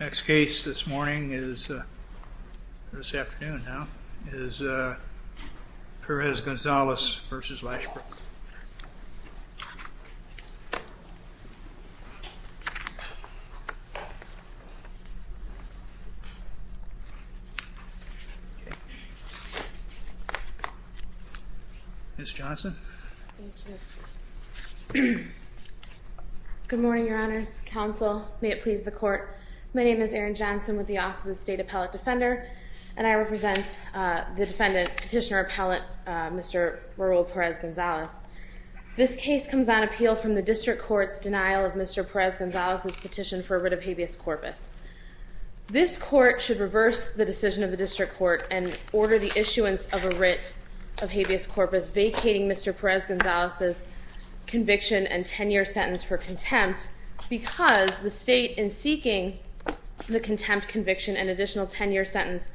Next case this morning is Perez-Gonzalez v. Lashbrook Good morning, your honors, counsel. May it please the court. My name is Erin Johnson with the Office of the State Appellate Defender and I represent the petitioner appellate Mr. Raul Perez-Gonzalez. This case comes on appeal from the district court's denial of Mr. Perez-Gonzalez's petition for a writ of habeas corpus. This court should reverse the decision of the district court and order the issuance of a writ of habeas corpus vacating Mr. Perez-Gonzalez's conviction and 10-year sentence for contempt because the state, in seeking the contempt conviction and additional 10-year sentence,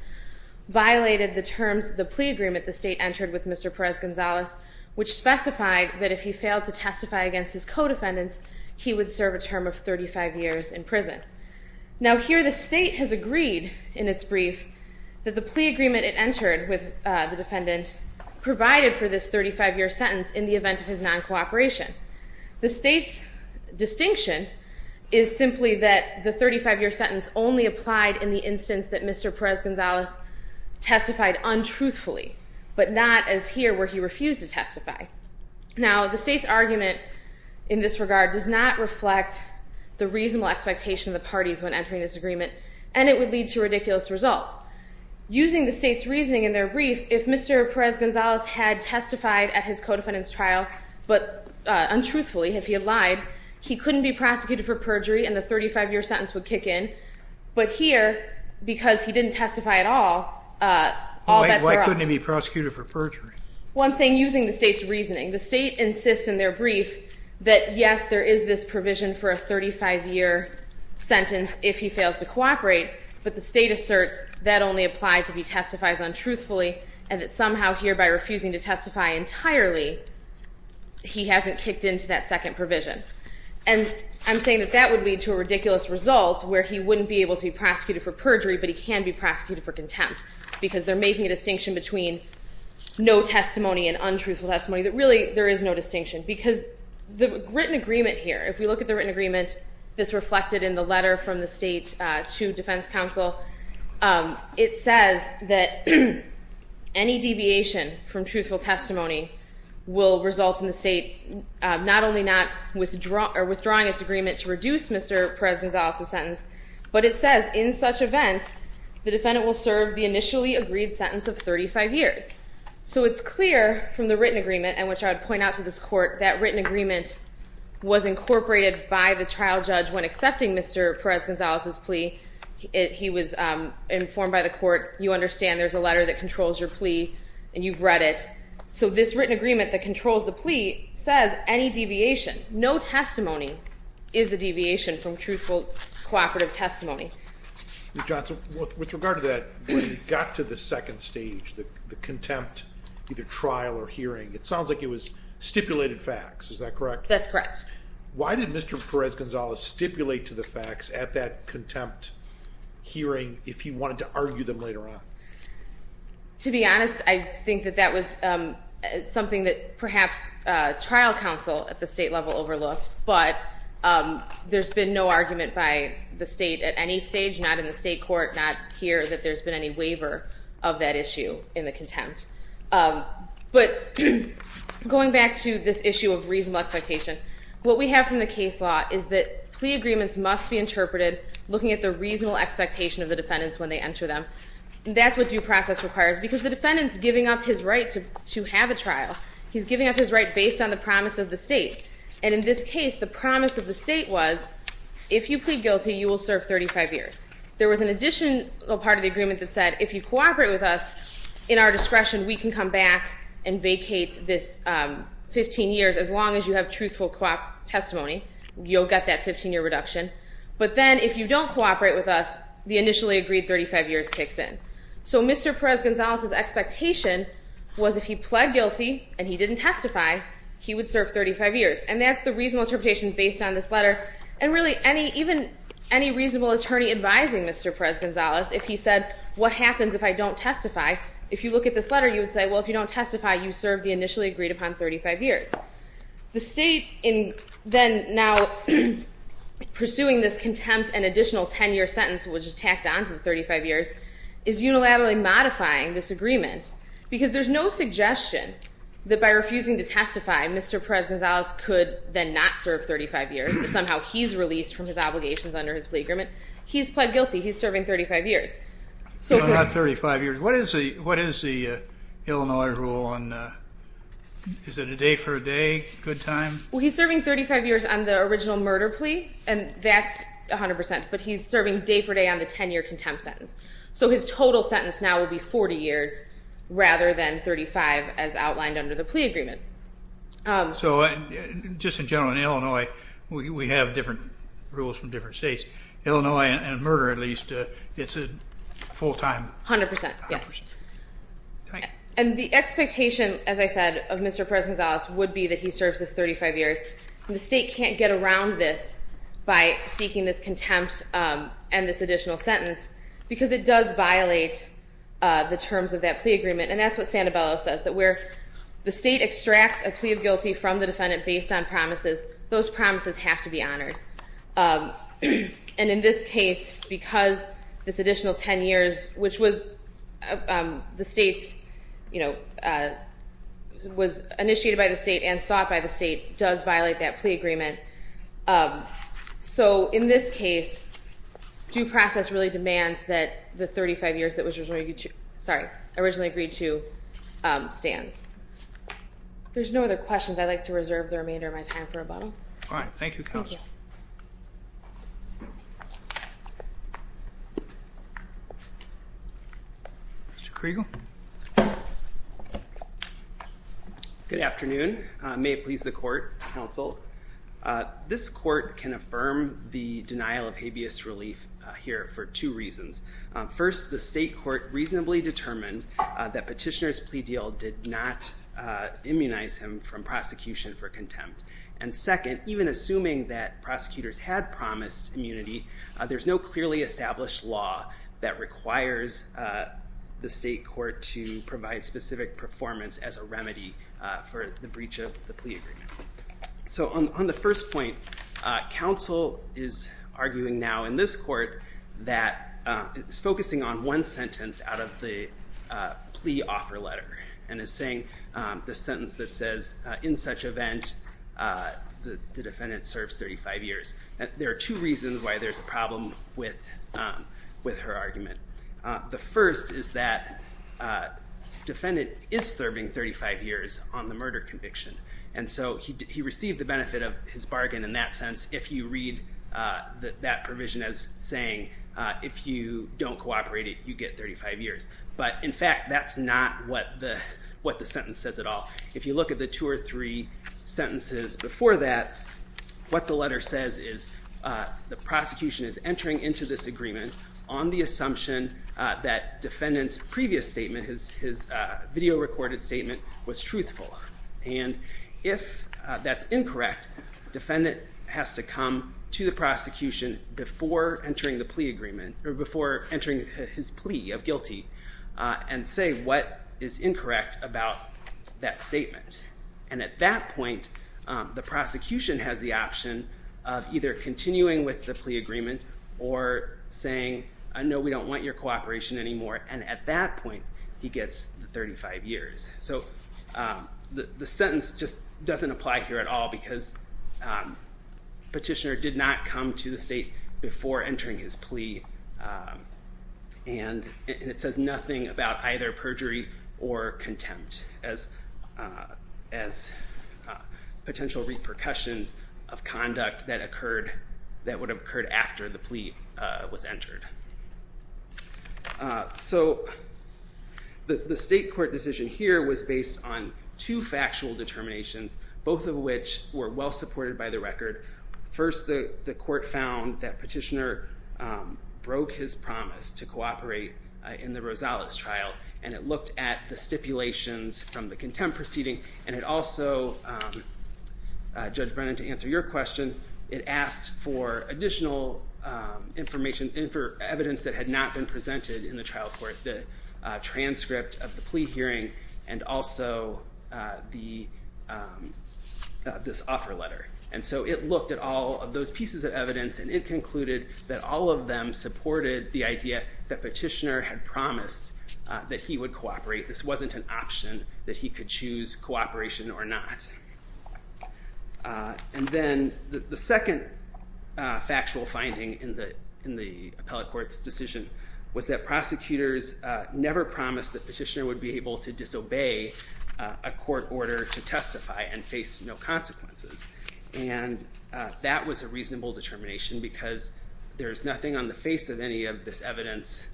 violated the terms of the plea agreement the state entered with Mr. Perez-Gonzalez, which specified that if he failed to testify against his co-defendants, he would serve a term of 35 years in prison. Now here the state has agreed in its brief that the plea agreement it entered with the defendant provided for this 35-year sentence in the event of his non-cooperation. The state's distinction is simply that the 35-year sentence only applied in the instance that Mr. Perez-Gonzalez testified untruthfully, but not as here where he refused to testify. Now the state's argument in this regard does not reflect the reasonable expectation of the parties when entering this agreement and it would lead to ridiculous results. Using the state's reasoning in their brief, if Mr. Perez-Gonzalez had testified at his co-defendant's trial, but untruthfully if he had lied, he couldn't be prosecuted for perjury and the 35-year sentence would kick in. But here, because he didn't testify at all, all bets are up. Why couldn't he be prosecuted for perjury? Well, I'm saying using the state's reasoning. The state insists in their brief that, yes, there is this provision for a 35-year sentence if he fails to cooperate, but the state asserts that only applies if he testifies untruthfully and that somehow here, by refusing to testify entirely, he hasn't kicked into that second provision. And I'm saying that that would lead to a ridiculous result where he wouldn't be able to be prosecuted for perjury, but he can be prosecuted for contempt because they're making a distinction between no testimony and untruthful testimony, that really, there is no distinction. Because the written agreement here, if we look at the written agreement that's reflected in the letter from the state to defense counsel, it says that any deviation from truthful testimony will result in the state not only not withdrawing its agreement to reduce Mr. Perez-Gonzalez's sentence, but it says, in such event, the defendant will serve the initially agreed sentence of 35 years. So it's clear from the written agreement, and which I'd point out to this court, that written agreement was incorporated by the trial judge when accepting Mr. Perez-Gonzalez's plea. He was informed by the court, you understand there's a letter that controls your plea and you've read it. So this written agreement that controls the plea says any deviation, no testimony, is a deviation from truthful cooperative testimony. Ms. Johnson, with regard to that, when you got to the second stage, the contempt, either trial or hearing, it sounds like it was stipulated facts, is that correct? That's correct. Why did Mr. Perez-Gonzalez stipulate to the facts at that contempt hearing if he wanted to argue them later on? To be honest, I think that that was something that perhaps trial counsel at the state level overlooked, but there's been no argument by the state at any stage, not in the state court, not here, that there's been any waiver of that issue in the contempt. But going back to this issue of reasonable expectation, what we have from the case law is that plea agreements must be interpreted looking at the reasonable expectation of the defendants when they enter them. That's what due process requires, because the defendant's giving up his right to have a trial. He's giving up his right based on the promise of the state. And in this case, the promise of the state was, if you plead guilty, you will serve 35 years. There was an additional part of the agreement that said, if you cooperate with us, in our discretion, we can come back and vacate this 15 years, as long as you have truthful cooperative testimony. You'll get that 15-year reduction. But then, if you don't cooperate with us, the initially agreed 35 years kicks in. So Mr. Perez-Gonzalez's expectation was, if he pled guilty and he didn't testify, he would serve 35 years. And that's the reasonable interpretation based on this letter. And really, even any reasonable attorney advising Mr. Perez-Gonzalez, if he said, what happens if I don't testify? If you look at this letter, you would say, well, if you don't testify, you served the initially agreed upon 35 years. The state, then now pursuing this contempt and additional 10-year sentence, which is a reduction of 35 years, is unilaterally modifying this agreement. Because there's no suggestion that by refusing to testify, Mr. Perez-Gonzalez could then not serve 35 years. Somehow, he's released from his obligations under his plea agreement. He's pled guilty. He's serving 35 years. So not 35 years. What is the Illinois rule on, is it a day for a day, good time? Well, he's serving 35 years on the original murder plea. And that's 100%. But he's serving day for day on the 10-year contempt sentence. So his total sentence now will be 40 years rather than 35, as outlined under the plea agreement. So just in general, in Illinois, we have different rules from different states. Illinois, in murder at least, it's a full-time... 100%, yes. 100%. And the expectation, as I said, of Mr. Perez-Gonzalez would be that he serves his 35 years. And the state can't get around this by seeking this contempt and this additional sentence, because it does violate the terms of that plea agreement. And that's what Santabello says, that where the state extracts a plea of guilty from the defendant based on promises, those promises have to be honored. And in this case, because this additional 10 years, which was the state's... Was initiated by the state and sought by the state, does violate that plea agreement. So in this case, due process really demands that the 35 years that was originally agreed to... Sorry. Originally agreed to stands. There's no other questions. I'd like to reserve the remainder of my time for rebuttal. All right. Thank you, Counsel. Thank you. Mr. Kriegel? Good afternoon. May it please the court, Counsel. This court can affirm the denial of habeas relief here for two reasons. First, the state court reasonably determined that Petitioner's plea deal did not immunize him from prosecution for contempt. And second, even assuming that prosecutors had promised immunity, there's no clearly established law that requires the state court to provide specific performance as a remedy for the breach of the plea agreement. So on the first point, Counsel is arguing now in this court that... Is focusing on one sentence out of the plea offer letter, and is saying the sentence that says, in such event, the defendant serves 35 years. There are two reasons why there's a problem with her argument. The first is that defendant is serving 35 years on the murder conviction. And so he received the benefit of his bargain in that sense, if you read that provision as saying, if you don't cooperate, you get 35 years. But in fact, that's not what the sentence says at all. If you look at the two or three sentences before that, what the letter says is the prosecution is entering into this agreement on the assumption that defendant's previous statement, his video recorded statement, was truthful. And if that's incorrect, defendant has to come to the prosecution before entering the plea agreement, or before entering his plea of guilty, and say what is incorrect about that statement. And at that point, the defendant is in the position of either continuing with the plea agreement, or saying, no, we don't want your cooperation anymore. And at that point, he gets the 35 years. So the sentence just doesn't apply here at all, because petitioner did not come to the state before entering his plea. And it says nothing about either perjury or contempt as potential repercussions of conduct that would have occurred after the plea was entered. So the state court decision here was based on two factual determinations, both of which were well supported by the record. First, the court found that petitioner broke his promise to cooperate in the Rosales trial. And it looked at the stipulations from the defendant to answer your question. It asked for additional evidence that had not been presented in the trial court, the transcript of the plea hearing, and also this offer letter. And so it looked at all of those pieces of evidence, and it concluded that all of them supported the idea that petitioner had promised that he would cooperate. This wasn't an option that he could choose cooperation or not. And then the second factual finding in the appellate court's decision was that prosecutors never promised that petitioner would be able to disobey a court order to testify and face no consequences. And that was a reasonable determination, because there is nothing on the face of any of this evidence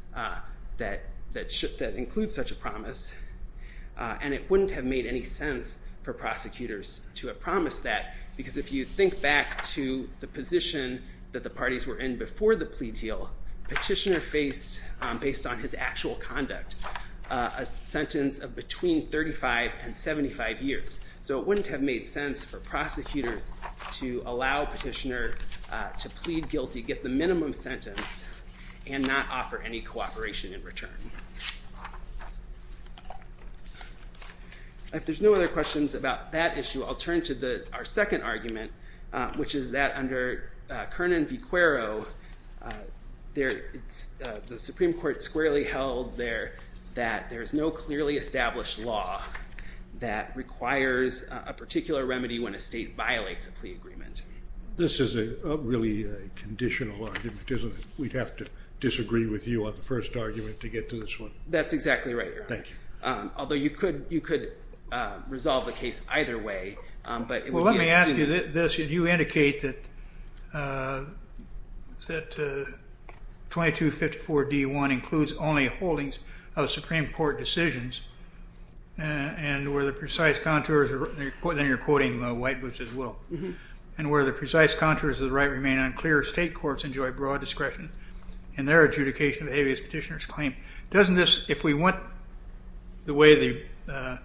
that includes such a promise. And it wouldn't have made any sense for prosecutors to have promised that, because if you think back to the position that the parties were in before the plea deal, petitioner faced, based on his actual conduct, a sentence of between 35 and 75 years. So it wouldn't have made sense for prosecutors to allow petitioner to plead guilty, get the If there's no other questions about that issue, I'll turn to our second argument, which is that under Kernan v. Cuero, the Supreme Court squarely held that there's no clearly established law that requires a particular remedy when a state violates a plea agreement. This is a really conditional argument, isn't it? We'd have to disagree with you on the first argument to get to this one. That's exactly right, Your Honor. Thank you. Although you could resolve the case either way. Well, let me ask you this. Did you indicate that 2254d.1 includes only holdings of Supreme Court decisions, and where the precise contours of the right remain unclear, state courts enjoy broad discretion in their adjudication of the habeas petitioner's claim. Doesn't this, if we went the way the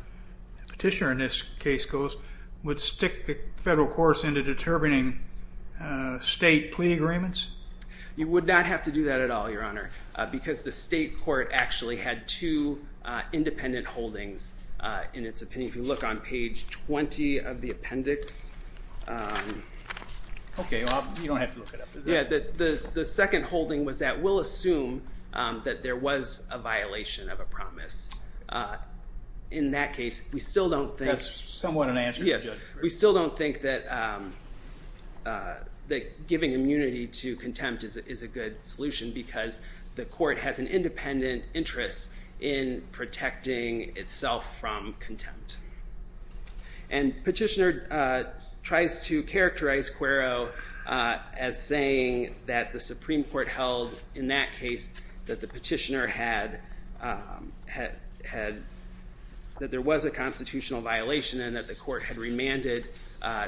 petitioner in this case goes, would stick the federal course into determining state plea agreements? You would not have to do that at all, Your Honor, because the state court actually had two independent holdings in its opinion. If you look on page 20 of the appendix. Okay, well, you don't have to look it up. Yeah, the second holding was that we'll assume that there was a violation of a promise. In that case, we still don't think. That's somewhat an answer. Yes, we still don't think that giving immunity to contempt is a good solution because the court has an independent interest in protecting itself from contempt. And petitioner tries to characterize Quero as saying that the Supreme Court held in that case that the petitioner had, that there was a constitutional violation and that the court had remanded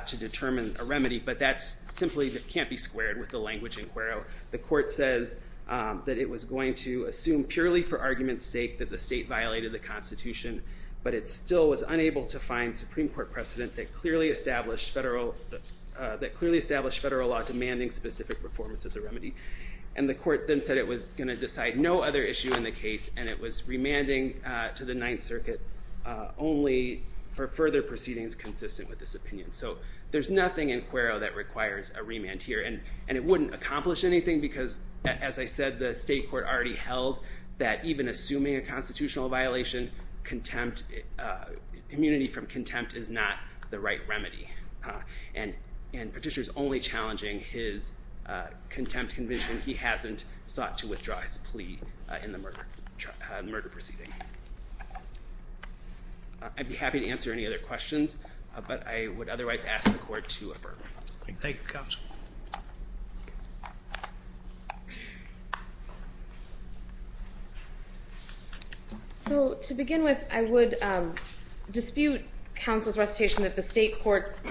to determine a remedy. But that's simply, that can't be squared with the language in Quero. The court says that it was going to assume purely for argument's sake that the state violated the constitution, but it still was unable to find Supreme Court precedent that clearly established federal, that clearly established federal law demanding specific performance as a remedy. And the court then said it was going to decide no other issue in the case and it was remanding to the Ninth Circuit only for further proceedings consistent with this opinion. So there's nothing in Quero that requires a remand here. And it wouldn't accomplish anything because, as I said, the state court already held that even assuming a constitutional violation, immunity from contempt is not the right remedy. And petitioner's only challenging his contempt conviction. He hasn't sought to withdraw his plea in the murder proceeding. I'd be happy to answer any other questions, but I would otherwise ask the court to affirm. Thank you, counsel. So to begin with, I would dispute counsel's recitation that the state court's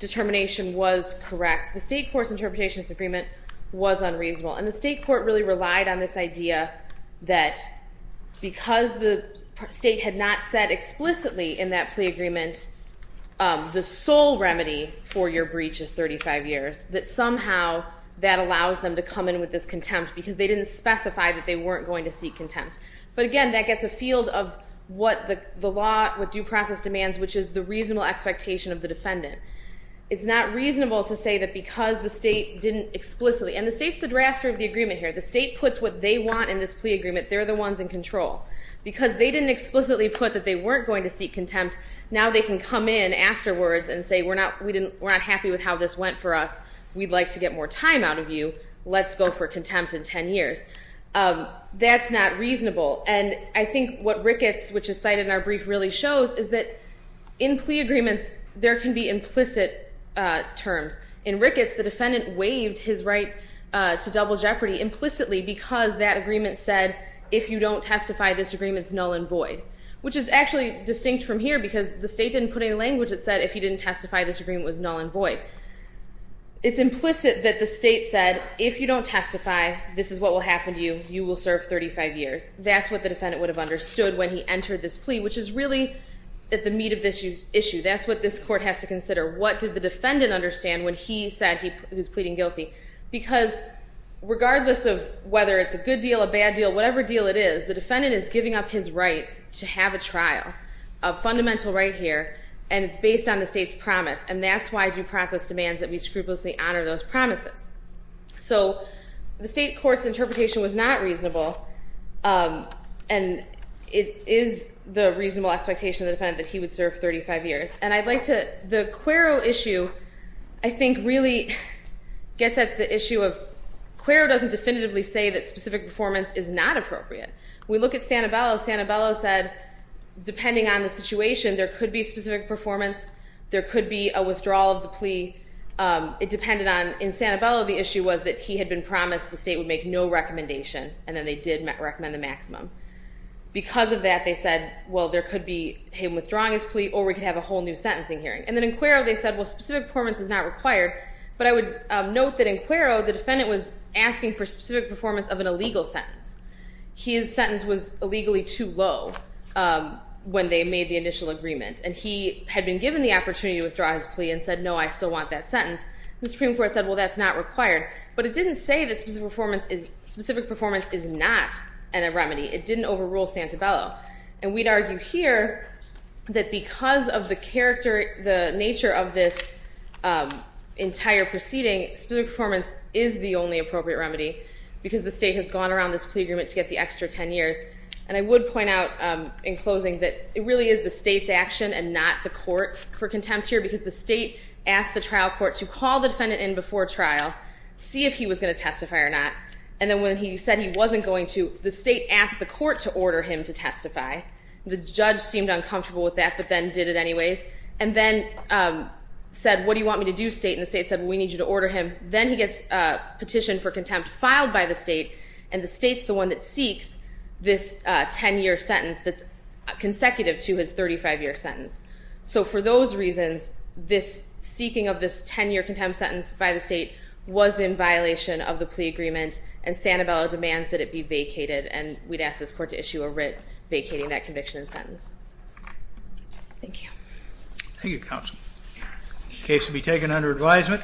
determination was correct. The state court's interpretation of this agreement was unreasonable. And the state court really relied on this idea that because the state had not said explicitly in that plea agreement the sole remedy for your breach is 35 years, that somehow that allows them to come in with this contempt because they didn't specify that they weren't going to seek contempt. But again, that gets a field of what the law, what due process demands, which is the reasonable expectation of the defendant. It's not reasonable to say that because the state didn't explicitly, and the state's the drafter of the agreement here. The state puts what they want in this plea agreement. They're the ones in control. Because they didn't explicitly put that they weren't going to seek contempt, now they can come in afterwards and say, we're not happy with how this went for us. We'd like to get more time out of you. Let's go for contempt in 10 years. That's not reasonable. And I think what Ricketts, which is cited in our brief, really shows is that in plea agreements there can be implicit terms. In Ricketts, the defendant waived his right to double jeopardy implicitly because that agreement said, if you don't testify, this agreement is null and void, which is actually distinct from here because the state didn't put any language that said, if you didn't testify, this agreement was null and void. It's implicit that the state said, if you don't testify, this is what will happen to you. You will serve 35 years. That's what the defendant would have understood when he entered this plea, which is really at the meat of this issue. That's what this court has to consider. What did the defendant understand when he said he was pleading guilty? Because regardless of whether it's a good deal, a bad deal, whatever deal it is, the defendant is giving up his rights to have a trial, a fundamental right here, and it's based on the state's promise. And that's why due process demands that we scrupulously honor those promises. So the state court's interpretation was not reasonable. And it is the reasonable expectation of the defendant that he would serve 35 years. And I'd like to, the Quero issue, I think, really gets at the issue of, Quero doesn't definitively say that specific performance is not appropriate. We look at Sanabella. Sanabella said, depending on the situation, there could be specific performance. There could be a withdrawal of the plea. It depended on, in Sanabella, the issue was that he had been promised the state would make no recommendation, and then they did recommend the maximum. Because of that, they said, well, there could be him withdrawing his plea, or we could have a whole new sentencing hearing. And then in Quero, they said, well, specific performance is not required. But I would note that in Quero, the defendant was asking for specific performance of an illegal sentence. His sentence was illegally too low when they made the initial agreement. And he had been given the opportunity to withdraw his plea and said, no, I still want that sentence. The Supreme Court said, well, that's not required. But it didn't say that specific performance is not a remedy. It didn't overrule Sanabella. And we'd argue here that because of the nature of this entire proceeding, specific performance is the only appropriate remedy, because the state has gone around this plea agreement to get the extra 10 years. And I would point out, in closing, that it really is the state's action and not the court for contempt here, because the state asked the trial court to see if he was going to testify or not. And then when he said he wasn't going to, the state asked the court to order him to testify. The judge seemed uncomfortable with that but then did it anyways. And then said, what do you want me to do, state? And the state said, we need you to order him. Then he gets a petition for contempt filed by the state. And the state's the one that seeks this 10-year sentence that's consecutive to his 35-year sentence. So for those reasons, this seeking of this 10-year contempt sentence by the state was in violation of the plea agreement. And Sanabella demands that it be vacated. And we'd ask this court to issue a writ vacating that conviction and sentence. Thank you. Thank you, counsel. The case will be taken under advisement.